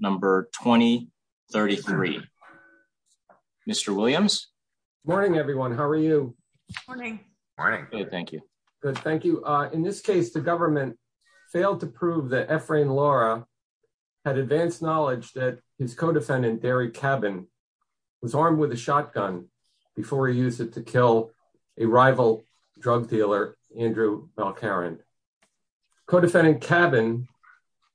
number 2033. Mr Williams. Morning, everyone. How are you? Morning. All right. Thank you. Good. Thank you. In this case, the government failed to prove that Ephraim Laura had advanced knowledge that his co defendant, Barry Cabin, was armed with a shotgun before he used it to kill a rival drug dealer, Andrew Balcarin. Co defendant cabin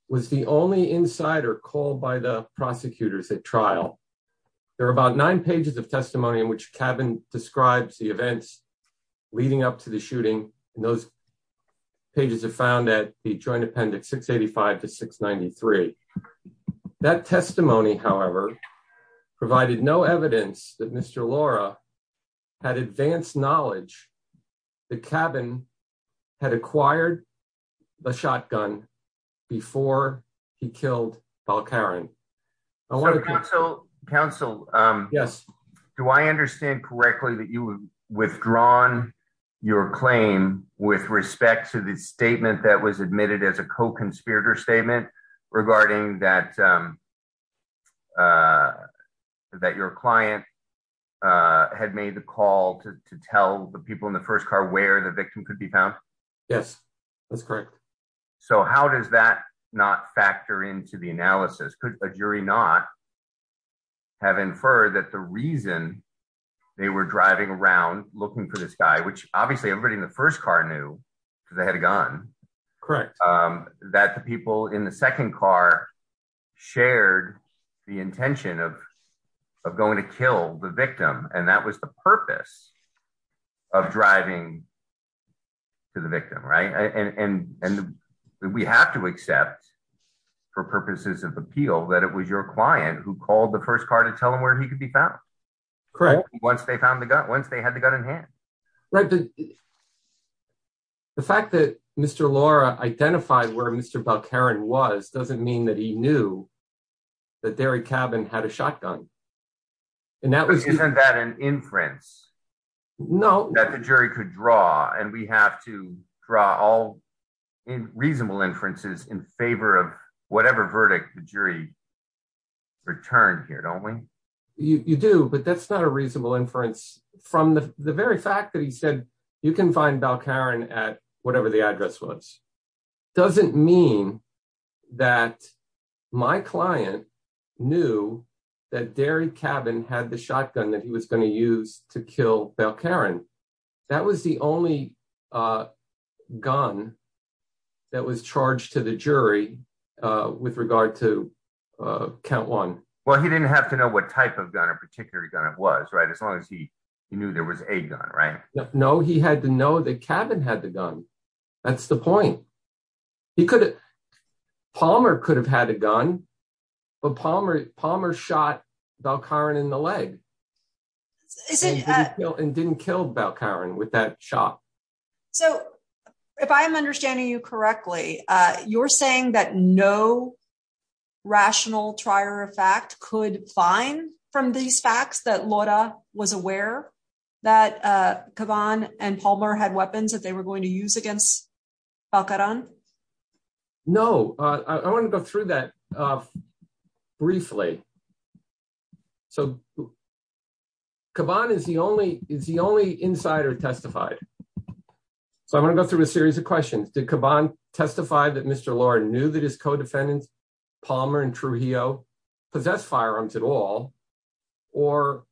was the only insider called by the prosecutors at trial. There are about nine pages of testimony in which cabin describes the events leading up to the shooting. Those pages are found at the Joint Appendix 685 to 693. That testimony, however, provided no evidence that Mr. Laura had advanced knowledge that cabin had acquired a shotgun before he killed Balcarin. So, counsel. Yes. Do I understand correctly that you withdrawn your claim with respect to the statement that was admitted as a co conspirator statement regarding that, that your client had made the call to tell the people in the first car where the victim could be found. Yes, that's correct. So how does that not factor into the analysis? Could a jury not have inferred that the reason they were driving around looking for this guy, which obviously everybody in the first car knew they had a gun. Correct. That the people in the second car shared the intention of going to kill the victim. And that was the purpose of driving to the victim. Right. And we have to accept for purposes of appeal that it was your client who called the first car to tell him where he could be found. Correct. Once they found the gun, once they had the gun in hand. Right. The fact that Mr. Laura identified where Mr. Balcarin was doesn't mean that he knew that there a cabin had a shotgun. No. That the jury could draw and we have to draw all reasonable inferences in favor of whatever verdict the jury returned here, don't we? You do, but that's not a reasonable inference from the very fact that he said you can find Balcarin at whatever the address was doesn't mean that my client knew that dairy cabin had the shotgun that he was going to use to kill Balcarin. That was the only gun that was charged to the jury with regard to count one. Well, he didn't have to know what type of gun or particular gun it was. Right. As long as he knew there was a gun. Right. No, he had to know that cabin had the gun. That's the point. He could. Palmer could have had a gun, but Palmer Palmer shot Balcarin in the leg and didn't kill Balcarin with that shot. So, if I'm understanding you correctly, you're saying that no rational trier of fact could find from these facts that Laura was aware that come on and Palmer had weapons that they were going to use against Balcarin. No, I want to go through that. Briefly. So, combine is the only is the only insider testified. So I'm gonna go through a series of questions did combine testified that Mr Lord knew that his co defendants Palmer and true he possessed firearms at all, or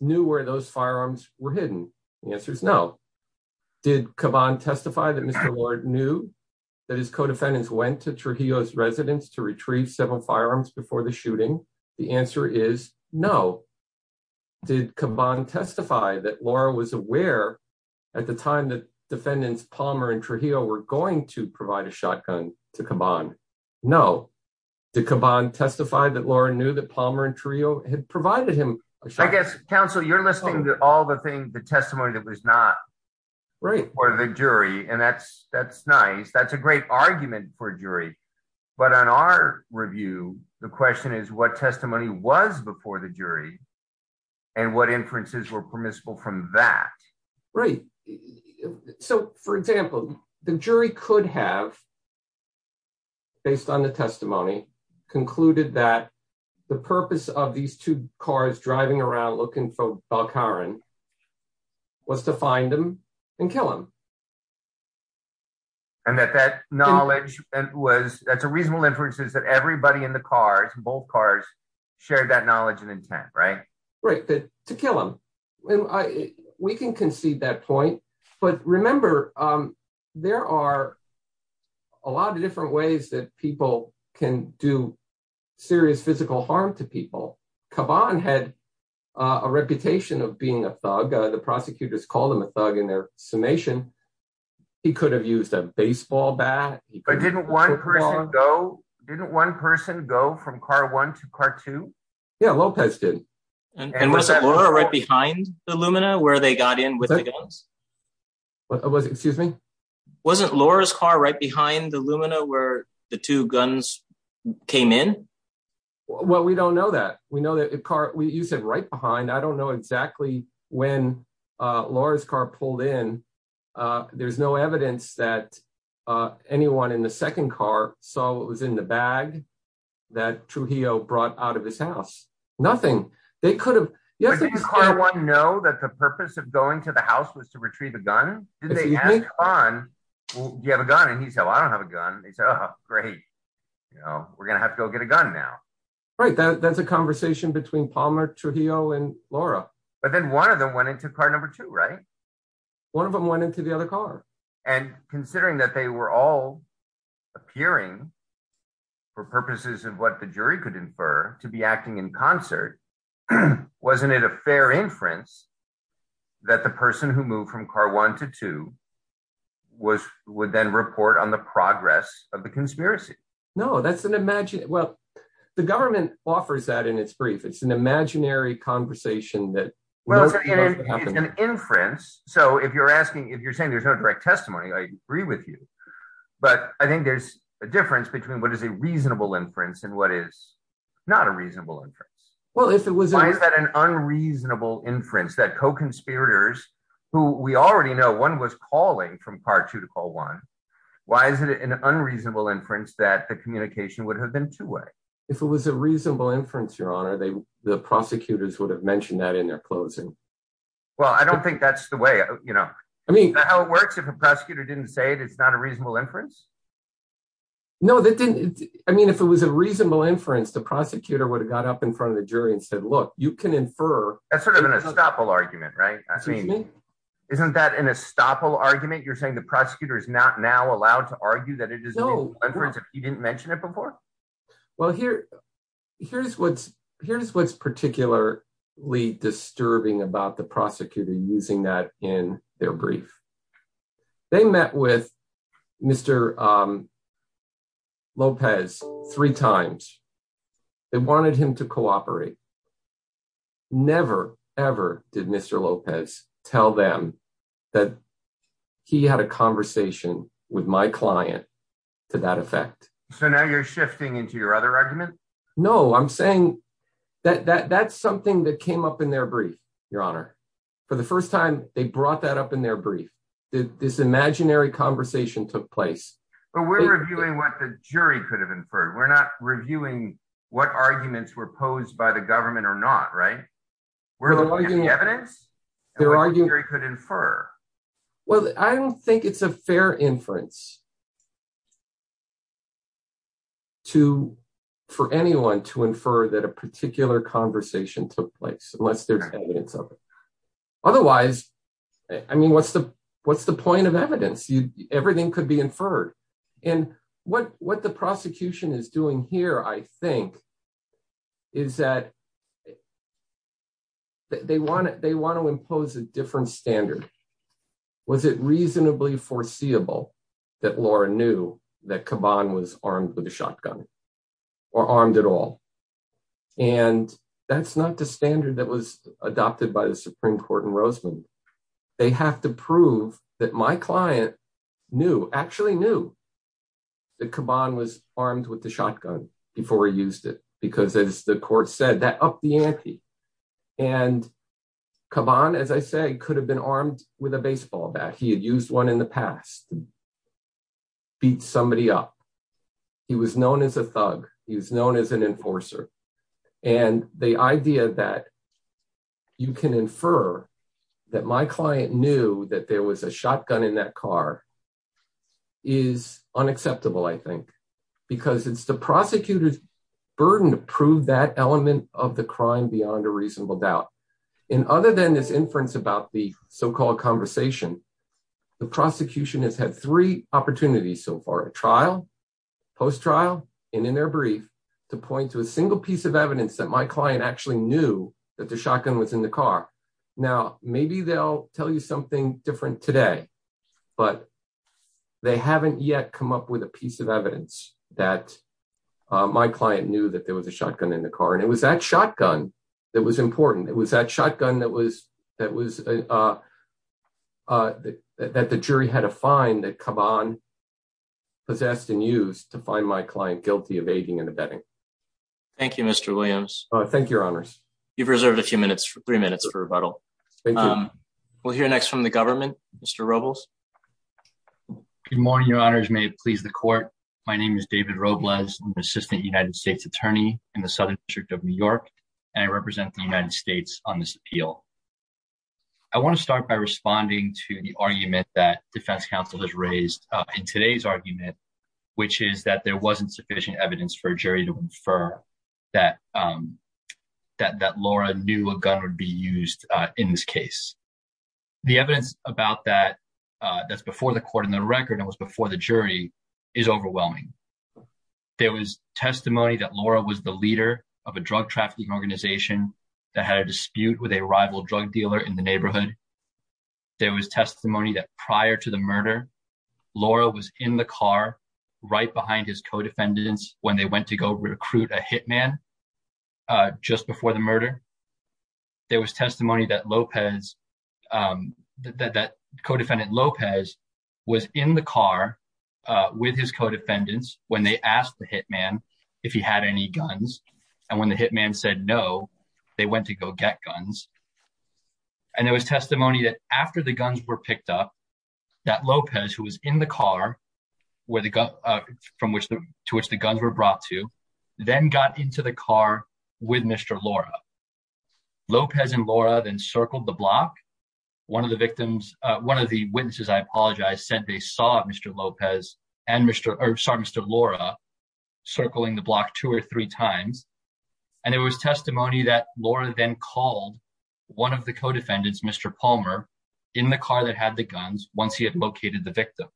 knew where those firearms were hidden. The answer is no. Did combine testify that Mr Lord knew that his co defendants went to true he was residents to retrieve several firearms before the shooting. The answer is no. Did combine testify that Laura was aware. At the time that defendants Palmer and for he'll we're going to provide a shotgun to combine. No. Did combine testify that Laura knew that Palmer and trio had provided him. I guess, counsel you're listening to all the things the testimony that was not right for the jury and that's, that's nice that's a great argument for jury. But on our review, the question is what testimony was before the jury. And what inferences were permissible from that. Right. So, for example, the jury could have based on the testimony concluded that the purpose of these two cars driving around looking for car and was to find them and kill them. And that that knowledge was, that's a reasonable inferences that everybody in the cars both cars shared that knowledge and intent right right that to kill them. We can concede that point. But remember, there are a lot of different ways that people can do serious physical harm to people come on had a reputation of being a thug the prosecutors call them a thug in their summation. He could have used a baseball bat. I didn't want to go. Didn't one person go from car one to cartoon. Yeah, Lopez didn't. And was that Laura right behind the Lumina where they got in with us. Was it, excuse me, wasn't Laura's car right behind the Lumina where the two guns came in. Well, we don't know that we know that the car we use it right behind I don't know exactly when Laura's car pulled in. There's no evidence that anyone in the second car, so it was in the bag that to he'll brought out of his house. Nothing. They could have. I want to know that the purpose of going to the house was to retrieve a gun on you have a gun and he said I don't have a gun. Great. You know, we're gonna have to go get a gun now. Right, that's a conversation between Palmer to heal and Laura, but then one of them went into car number two right. One of them went into the other car, and considering that they were all appearing for purposes of what the jury could infer to be acting in concert. Wasn't it a fair inference that the person who moved from car one to two was would then report on the progress of the conspiracy. No, that's an imagine. Well, the government offers that in its brief it's an imaginary conversation that was an inference. So if you're asking if you're saying there's no direct testimony I agree with you. But I think there's a difference between what is a reasonable inference and what is not a reasonable interest. Well, if it was that an unreasonable inference that co conspirators, who we already know one was calling from part two to call one. Why is it an unreasonable inference that the communication would have been two way. If it was a reasonable inference, Your Honor, they, the prosecutors would have mentioned that in their closing. Well, I don't think that's the way, you know, I mean, how it works if a prosecutor didn't say it it's not a reasonable inference. No, that didn't. I mean, if it was a reasonable inference, the prosecutor would have got up in front of the jury and said, look, you can infer. That's sort of an estoppel argument. Right. I mean, isn't that an estoppel argument. You're saying the prosecutor is not now allowed to argue that it is no difference if you didn't mention it before. Well, here, here's what's here's what's particularly disturbing about the prosecutor using that in their brief. They met with Mr. Lopez, three times. They wanted him to cooperate. Never, ever did Mr. Lopez tell them that he had a conversation with my client to that effect. So now you're shifting into your other argument. No, I'm saying that that's something that came up in their brief, Your Honor. For the first time, they brought that up in their brief. This imaginary conversation took place. But we're reviewing what the jury could have inferred. We're not reviewing what arguments were posed by the government or not. Right. We're looking at the evidence. The jury could infer. Well, I don't think it's a fair inference to for anyone to infer that a particular conversation took place unless there's evidence of it. Otherwise, I mean, what's the what's the point of evidence you everything could be inferred. And what what the prosecution is doing here, I think, is that they want it they want to impose a different standard. Was it reasonably foreseeable that Laura knew that Caban was armed with a shotgun or armed at all. And that's not the standard that was adopted by the Supreme Court in Roseman. They have to prove that my client knew actually knew that Caban was armed with the shotgun before he used it, because as the court said that up the ante. And Caban, as I say, could have been armed with a baseball bat. He had used one in the past. Beat somebody up. He was known as a thug. He was known as an enforcer. And the idea that you can infer that my client knew that there was a shotgun in that car is unacceptable, I think, because it's the prosecutor's burden to prove that element of the crime beyond a reasonable doubt. And other than this inference about the so-called conversation, the prosecution has had three opportunities so far, a trial, post trial and in their brief to point to a single piece of evidence that my client actually knew that the shotgun was in the car. Now, maybe they'll tell you something different today, but they haven't yet come up with a piece of evidence that my client knew that there was a shotgun in the car. And it was that shotgun that was important. It was that shotgun that the jury had to find that Caban possessed and used to find my client guilty of aiding and abetting. Thank you, Mr. Williams. Thank you, Your Honors. You've reserved a few minutes, three minutes for rebuttal. We'll hear next from the government. Mr. Robles. Good morning, Your Honors. May it please the court. My name is David Robles, Assistant United States Attorney in the Southern District of New York, and I represent the United States on this appeal. I want to start by responding to the argument that defense counsel has raised in today's argument, which is that there wasn't sufficient evidence for a jury to infer that that Laura knew a gun would be used in this case. The evidence about that that's before the court in the record and was before the jury is overwhelming. There was testimony that Laura was the leader of a drug trafficking organization that had a dispute with a rival drug dealer in the neighborhood. There was testimony that prior to the murder, Laura was in the car right behind his co-defendants when they went to go recruit a hitman just before the murder. There was testimony that Lopez, that co-defendant Lopez was in the car with his co-defendants when they asked the hitman if he had any guns. And when the hitman said no, they went to go get guns. And there was testimony that after the guns were picked up, that Lopez, who was in the car from which the guns were brought to, then got into the car with Mr. Laura. Lopez and Laura then circled the block. One of the victims, one of the witnesses, I apologize, said they saw Mr. Lopez and Mr. Laura circling the block two or three times. And it was testimony that Laura then called one of the co-defendants, Mr. Palmer, in the car that had the guns once he had located the victim.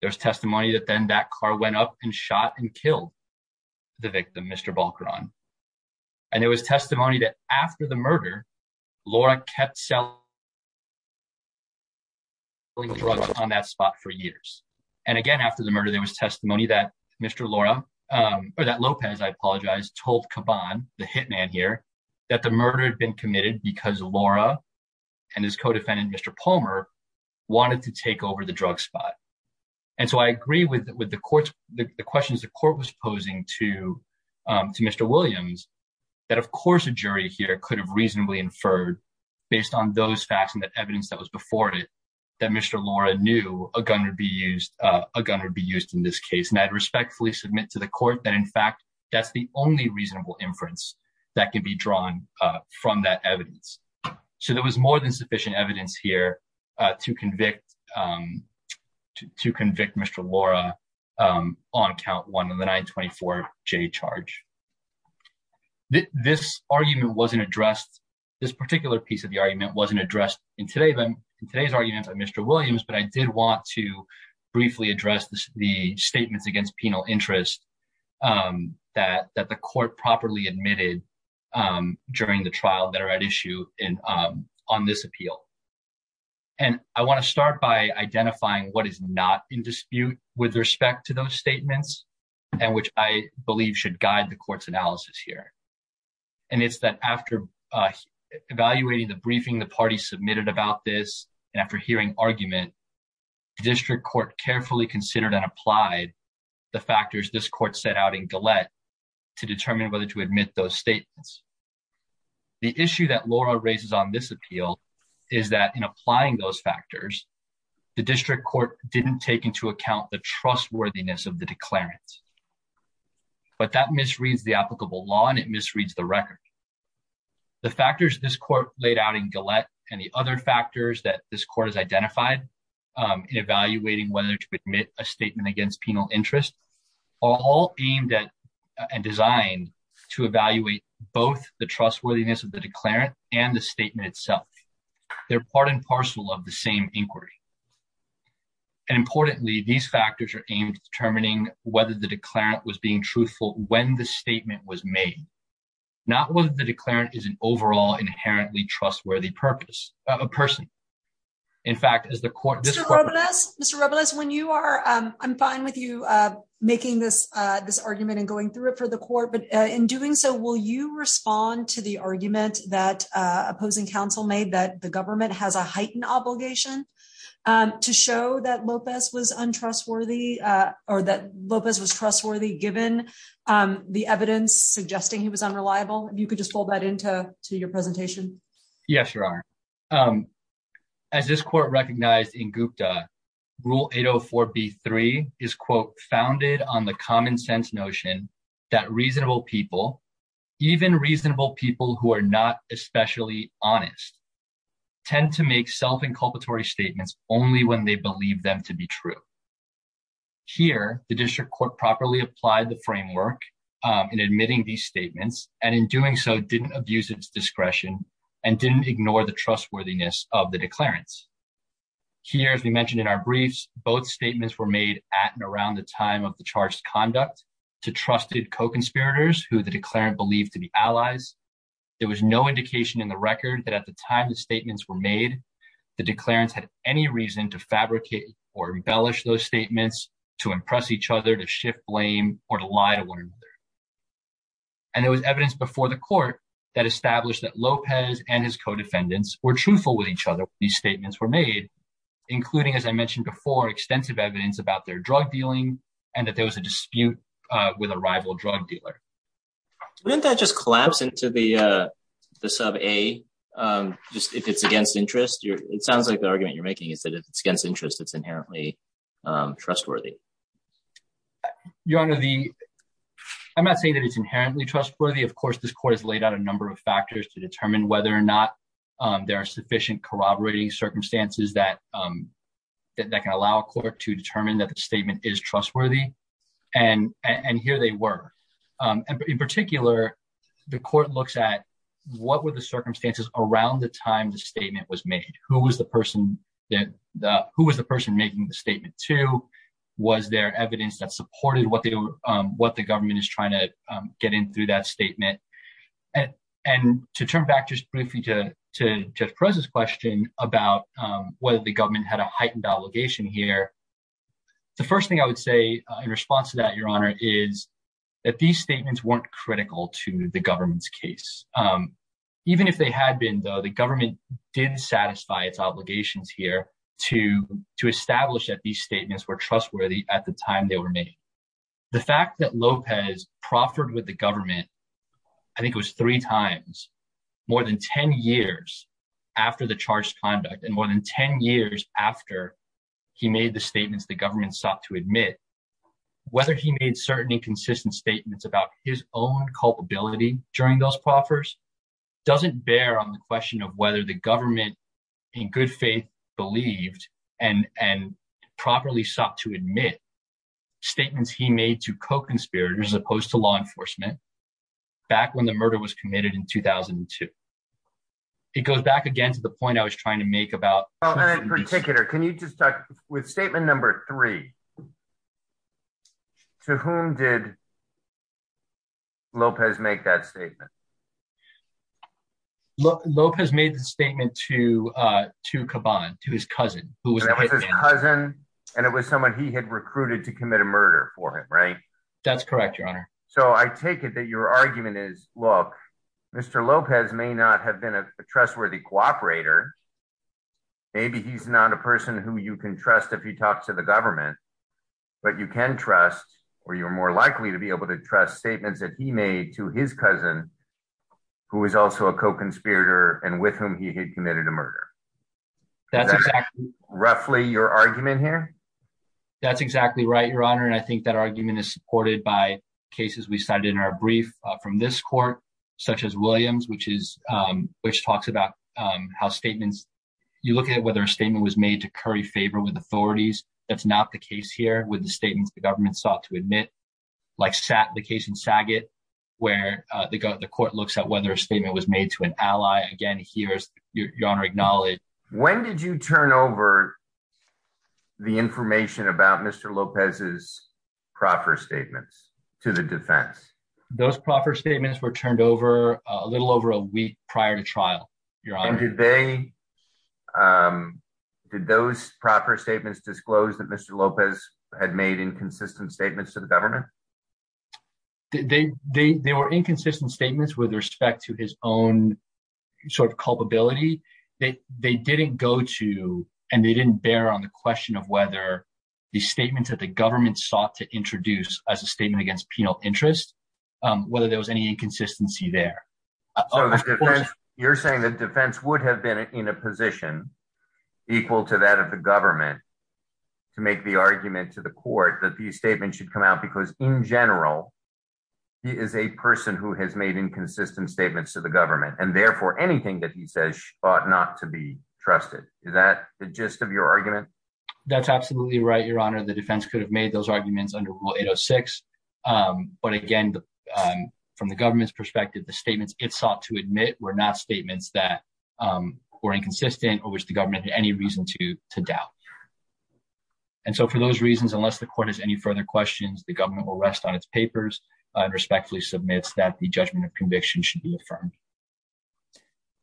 There's testimony that then that car went up and shot and killed the victim, Mr. Balcaron. And there was testimony that after the murder, Laura kept selling drugs on that spot for years. And again, after the murder, there was testimony that Mr. Laura or that Lopez, I apologize, told Caban, the hitman here, that the murder had been committed because Laura and his co-defendant, Mr. Palmer, wanted to take over the drug spot. And so I agree with the questions the court was posing to Mr. Williams that, of course, a jury here could have reasonably inferred, based on those facts and the evidence that was before it, that Mr. Laura knew a gun would be used in this case. And I'd respectfully submit to the court that, in fact, that's the only reasonable inference that can be drawn from that evidence. So there was more than sufficient evidence here to convict Mr. Laura on count one of the 924J charge. This argument wasn't addressed, this particular piece of the argument wasn't addressed in today's argument by Mr. Williams, but I did want to briefly address the statements against penal interest that the court properly admitted during the trial that are at issue on this appeal. And I want to start by identifying what is not in dispute with respect to those statements, and which I believe should guide the court's analysis here. And it's that after evaluating the briefing the party submitted about this, and after hearing argument, the district court carefully considered and applied the factors this court set out in Gillette to determine whether to admit those statements. The issue that Laura raises on this appeal is that in applying those factors, the district court didn't take into account the trustworthiness of the declarants. But that misreads the applicable law and it misreads the record. The factors this court laid out in Gillette and the other factors that this court has identified in evaluating whether to admit a statement against penal interest are all aimed at and designed to evaluate both the trustworthiness of the declarant and the statement itself. They're part and parcel of the same inquiry. And importantly, these factors are aimed at determining whether the declarant was being truthful when the statement was made, not whether the declarant is an overall inherently trustworthy person. In fact, as the court... Mr. Robles, when you are... I'm fine with you making this argument and going through it for the court, but in doing so, will you respond to the argument that opposing counsel made that the government has a heightened obligation to show that Lopez was untrustworthy, or that Lopez was trustworthy, given the evidence suggesting he was unreliable? If you could just fold that into your presentation. Yes, Your Honor. As this court recognized in Gupta, Rule 804B3 is, quote, founded on the common sense notion that reasonable people, even reasonable people who are not especially honest, tend to make self-inculpatory statements only when they believe them to be true. Here, the district court properly applied the framework in admitting these statements, and in doing so, didn't abuse its discretion and didn't ignore the trustworthiness of the declarants. Here, as we mentioned in our briefs, both statements were made at and around the time of the charged conduct to trusted co-conspirators who the declarant believed to be allies. There was no indication in the record that at the time the statements were made, the declarants had any reason to fabricate or embellish those statements, to impress each other, to shift blame, or to lie to one another. And there was evidence before the court that established that Lopez and his co-defendants were truthful with each other when these statements were made, including, as I mentioned before, extensive evidence about their drug dealing and that there was a dispute with a rival drug dealer. Wouldn't that just collapse into the sub A, if it's against interest? It sounds like the argument you're making is that if it's against interest, it's inherently trustworthy. Your Honor, I'm not saying that it's inherently trustworthy. Of course, this court has laid out a number of factors to determine whether or not there are sufficient corroborating circumstances that can allow a court to determine that the statement is trustworthy. And here they were. In particular, the court looks at what were the circumstances around the time the statement was made? Who was the person making the statement to? Was there evidence that supported what the government is trying to get in through that statement? And to turn back just briefly to Jeff Perez's question about whether the government had a heightened obligation here. The first thing I would say in response to that, Your Honor, is that these statements weren't critical to the government's case. Even if they had been, though, the government did satisfy its obligations here to establish that these statements were trustworthy at the time they were made. The fact that Lopez proffered with the government, I think it was three times, more than 10 years after the charged conduct and more than 10 years after he made the statements the government sought to admit, whether he made certain inconsistent statements about his own culpability during those proffers doesn't bear on the question of whether the government in good faith believed and properly sought to admit statements he made to co-conspirators as opposed to law enforcement back when the murder was committed in 2002. It goes back again to the point I was trying to make about. In particular, can you just talk with statement number three? To whom did Lopez make that statement? Look, Lopez made the statement to to Caban, to his cousin, who was his cousin, and it was someone he had recruited to commit a murder for him, right? That's correct, Your Honor. So I take it that your argument is, look, Mr. Lopez may not have been a trustworthy cooperator. Maybe he's not a person who you can trust if you talk to the government, but you can trust or you're more likely to be able to trust statements that he made to his cousin, who is also a co-conspirator and with whom he had committed a murder. That's exactly. Roughly your argument here. That's exactly right, Your Honor. And I think that argument is supported by cases we cited in our brief from this court, such as Williams, which is which talks about how statements you look at whether a statement was made to curry favor with authorities. That's not the case here with the statements the government sought to admit, like the case in Saget, where the court looks at whether a statement was made to an ally. Again, here's Your Honor acknowledge. When did you turn over the information about Mr. Lopez's proffer statements to the defense? Those proffer statements were turned over a little over a week prior to trial, Your Honor. Did they, did those proffer statements disclose that Mr. Lopez had made inconsistent statements to the government? They were inconsistent statements with respect to his own sort of culpability. They didn't go to and they didn't bear on the question of whether the statements that the government sought to introduce as a statement against penal interest, whether there was any inconsistency there. You're saying that defense would have been in a position equal to that of the government to make the argument to the court that the statement should come out because in general, he is a person who has made inconsistent statements to the government and therefore anything that he says ought not to be trusted. Is that the gist of your argument? That's absolutely right, Your Honor. The defense could have made those arguments under Rule 806. But again, from the government's perspective, the statements it sought to admit were not statements that were inconsistent or which the government had any reason to doubt. And so for those reasons, unless the court has any further questions, the government will rest on its papers and respectfully submits that the judgment of conviction should be affirmed.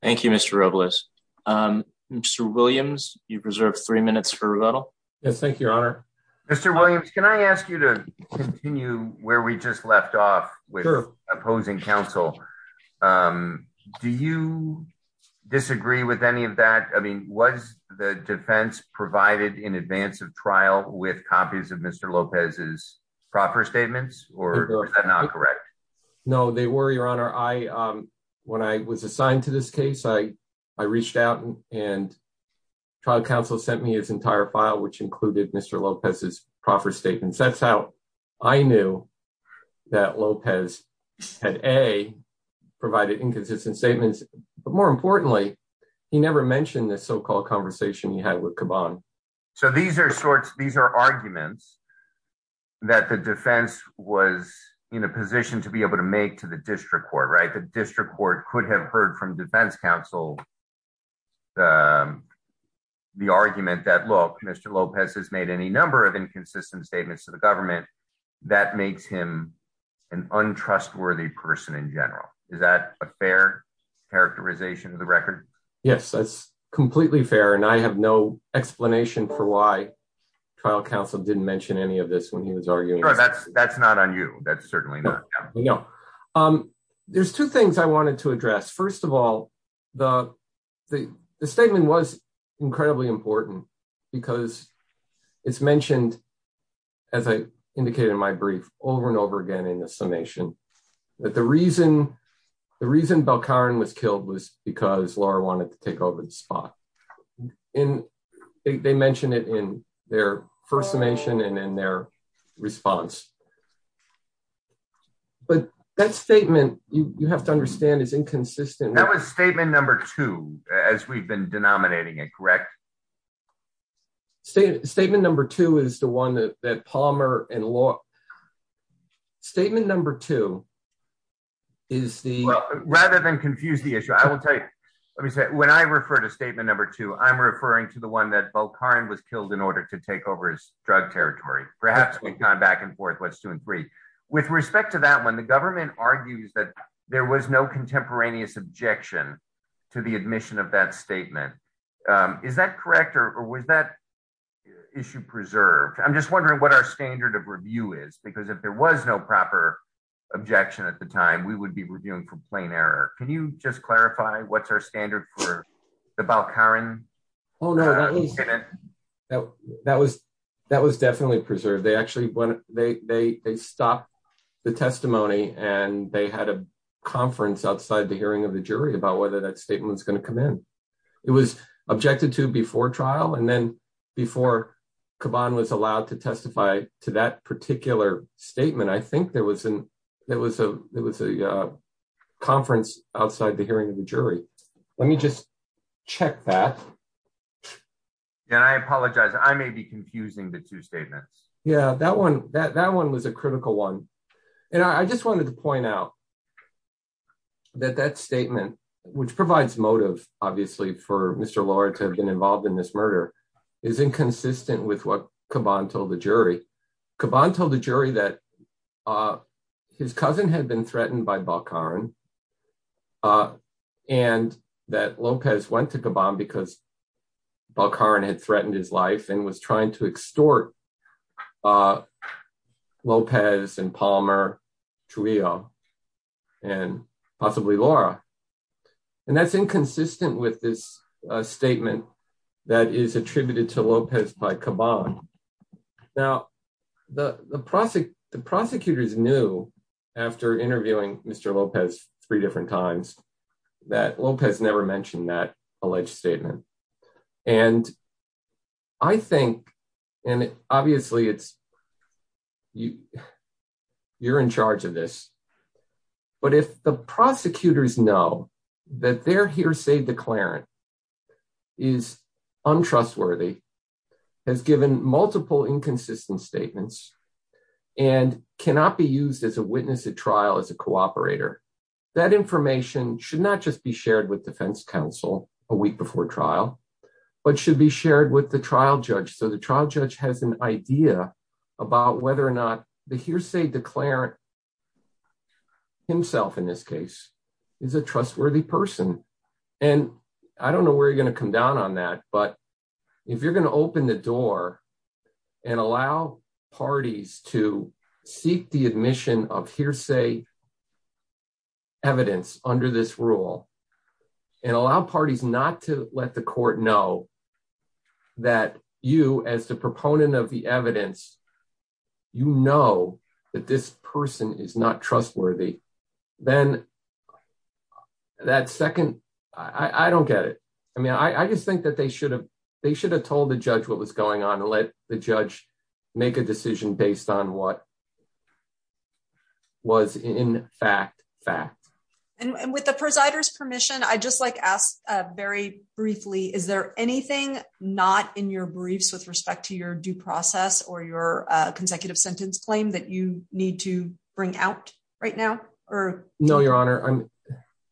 Thank you, Mr. Robles. Mr. Williams, you've reserved three minutes for rebuttal. Yes, thank you, Your Honor. Mr. Williams, can I ask you to continue where we just left off with opposing counsel? Do you disagree with any of that? I mean, was the defense provided in advance of trial with copies of Mr. Lopez's proper statements or was that not correct? No, they were, Your Honor. When I was assigned to this case, I reached out and trial counsel sent me his entire file, which included Mr. Lopez's proper statements. That's how I knew that Lopez had, A, provided inconsistent statements. But more importantly, he never mentioned the so-called conversation he had with Caban. So these are arguments that the defense was in a position to be able to make to the district court, right? The district court could have heard from defense counsel the argument that, look, Mr. Lopez has made any number of inconsistent statements to the government. That makes him an untrustworthy person in general. Is that a fair characterization of the record? Yes, that's completely fair. And I have no explanation for why trial counsel didn't mention any of this when he was arguing. That's not on you. That's certainly not. There's two things I wanted to address. First of all, the statement was incredibly important because it's mentioned, as I indicated in my brief, over and over again in the summation. That the reason Belkarin was killed was because Laura wanted to take over the spot. And they mentioned it in their first summation and in their response. But that statement, you have to understand, is inconsistent. That was statement number two, as we've been denominating it, correct? Statement number two is the one that Palmer and Laura… Statement number two is the… Rather than confuse the issue, I will tell you, let me say, when I refer to statement number two, I'm referring to the one that Belkarin was killed in order to take over his drug territory. Perhaps we've gone back and forth what's two and three. With respect to that one, the government argues that there was no contemporaneous objection to the admission of that statement. Is that correct or was that issue preserved? I'm just wondering what our standard of review is, because if there was no proper objection at the time, we would be reviewing for plain error. Can you just clarify what's our standard for the Belkarin? Oh no, that was definitely preserved. They stopped the testimony and they had a conference outside the hearing of the jury about whether that statement was going to come in. It was objected to before trial and then before Caban was allowed to testify to that particular statement, I think there was a conference outside the hearing of the jury. Let me just check that. And I apologize, I may be confusing the two statements. Yeah, that one was a critical one. And I just wanted to point out that that statement, which provides motive obviously for Mr. Lohr to have been involved in this murder, is inconsistent with what Caban told the jury. Caban told the jury that his cousin had been threatened by Belkarin and that Lopez went to Caban because Belkarin had threatened his life and was trying to extort Lopez and Paul. And that's inconsistent with this statement that is attributed to Lopez by Caban. Now, the prosecutors knew after interviewing Mr. Lopez three different times that Lopez never mentioned that alleged statement. And I think, and obviously you're in charge of this, but if the prosecutors know that their hearsay declarant is untrustworthy, has given multiple inconsistent statements, and cannot be used as a witness at trial as a cooperator, that information should not just be shared with defense counsel a week before trial, but should be shared with the trial judge. So the trial judge has an idea about whether or not the hearsay declarant, himself in this case, is a trustworthy person. And I don't know where you're going to come down on that, but if you're going to open the door and allow parties to seek the admission of hearsay evidence under this rule and allow parties not to let the court know that you, as the proponent of the evidence, you know that this person is not trustworthy, then that second, I don't get it. I mean, I just think that they should have told the judge what was going on and let the judge make a decision based on what was in fact fact. And with the presider's permission, I'd just like to ask very briefly, is there anything not in your briefs with respect to your due process or your consecutive sentence claim that you need to bring out right now? No, Your Honor.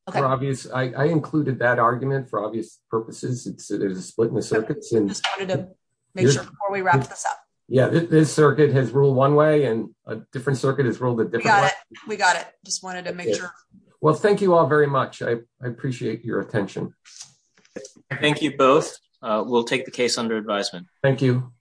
I included that argument for obvious purposes. There's a split in the circuits. I just wanted to make sure before we wrap this up. Yeah, this circuit has ruled one way and a different circuit has ruled a different way. But we got it. Just wanted to make sure. Well, thank you all very much. I appreciate your attention. Thank you both. We'll take the case under advisement. Thank you.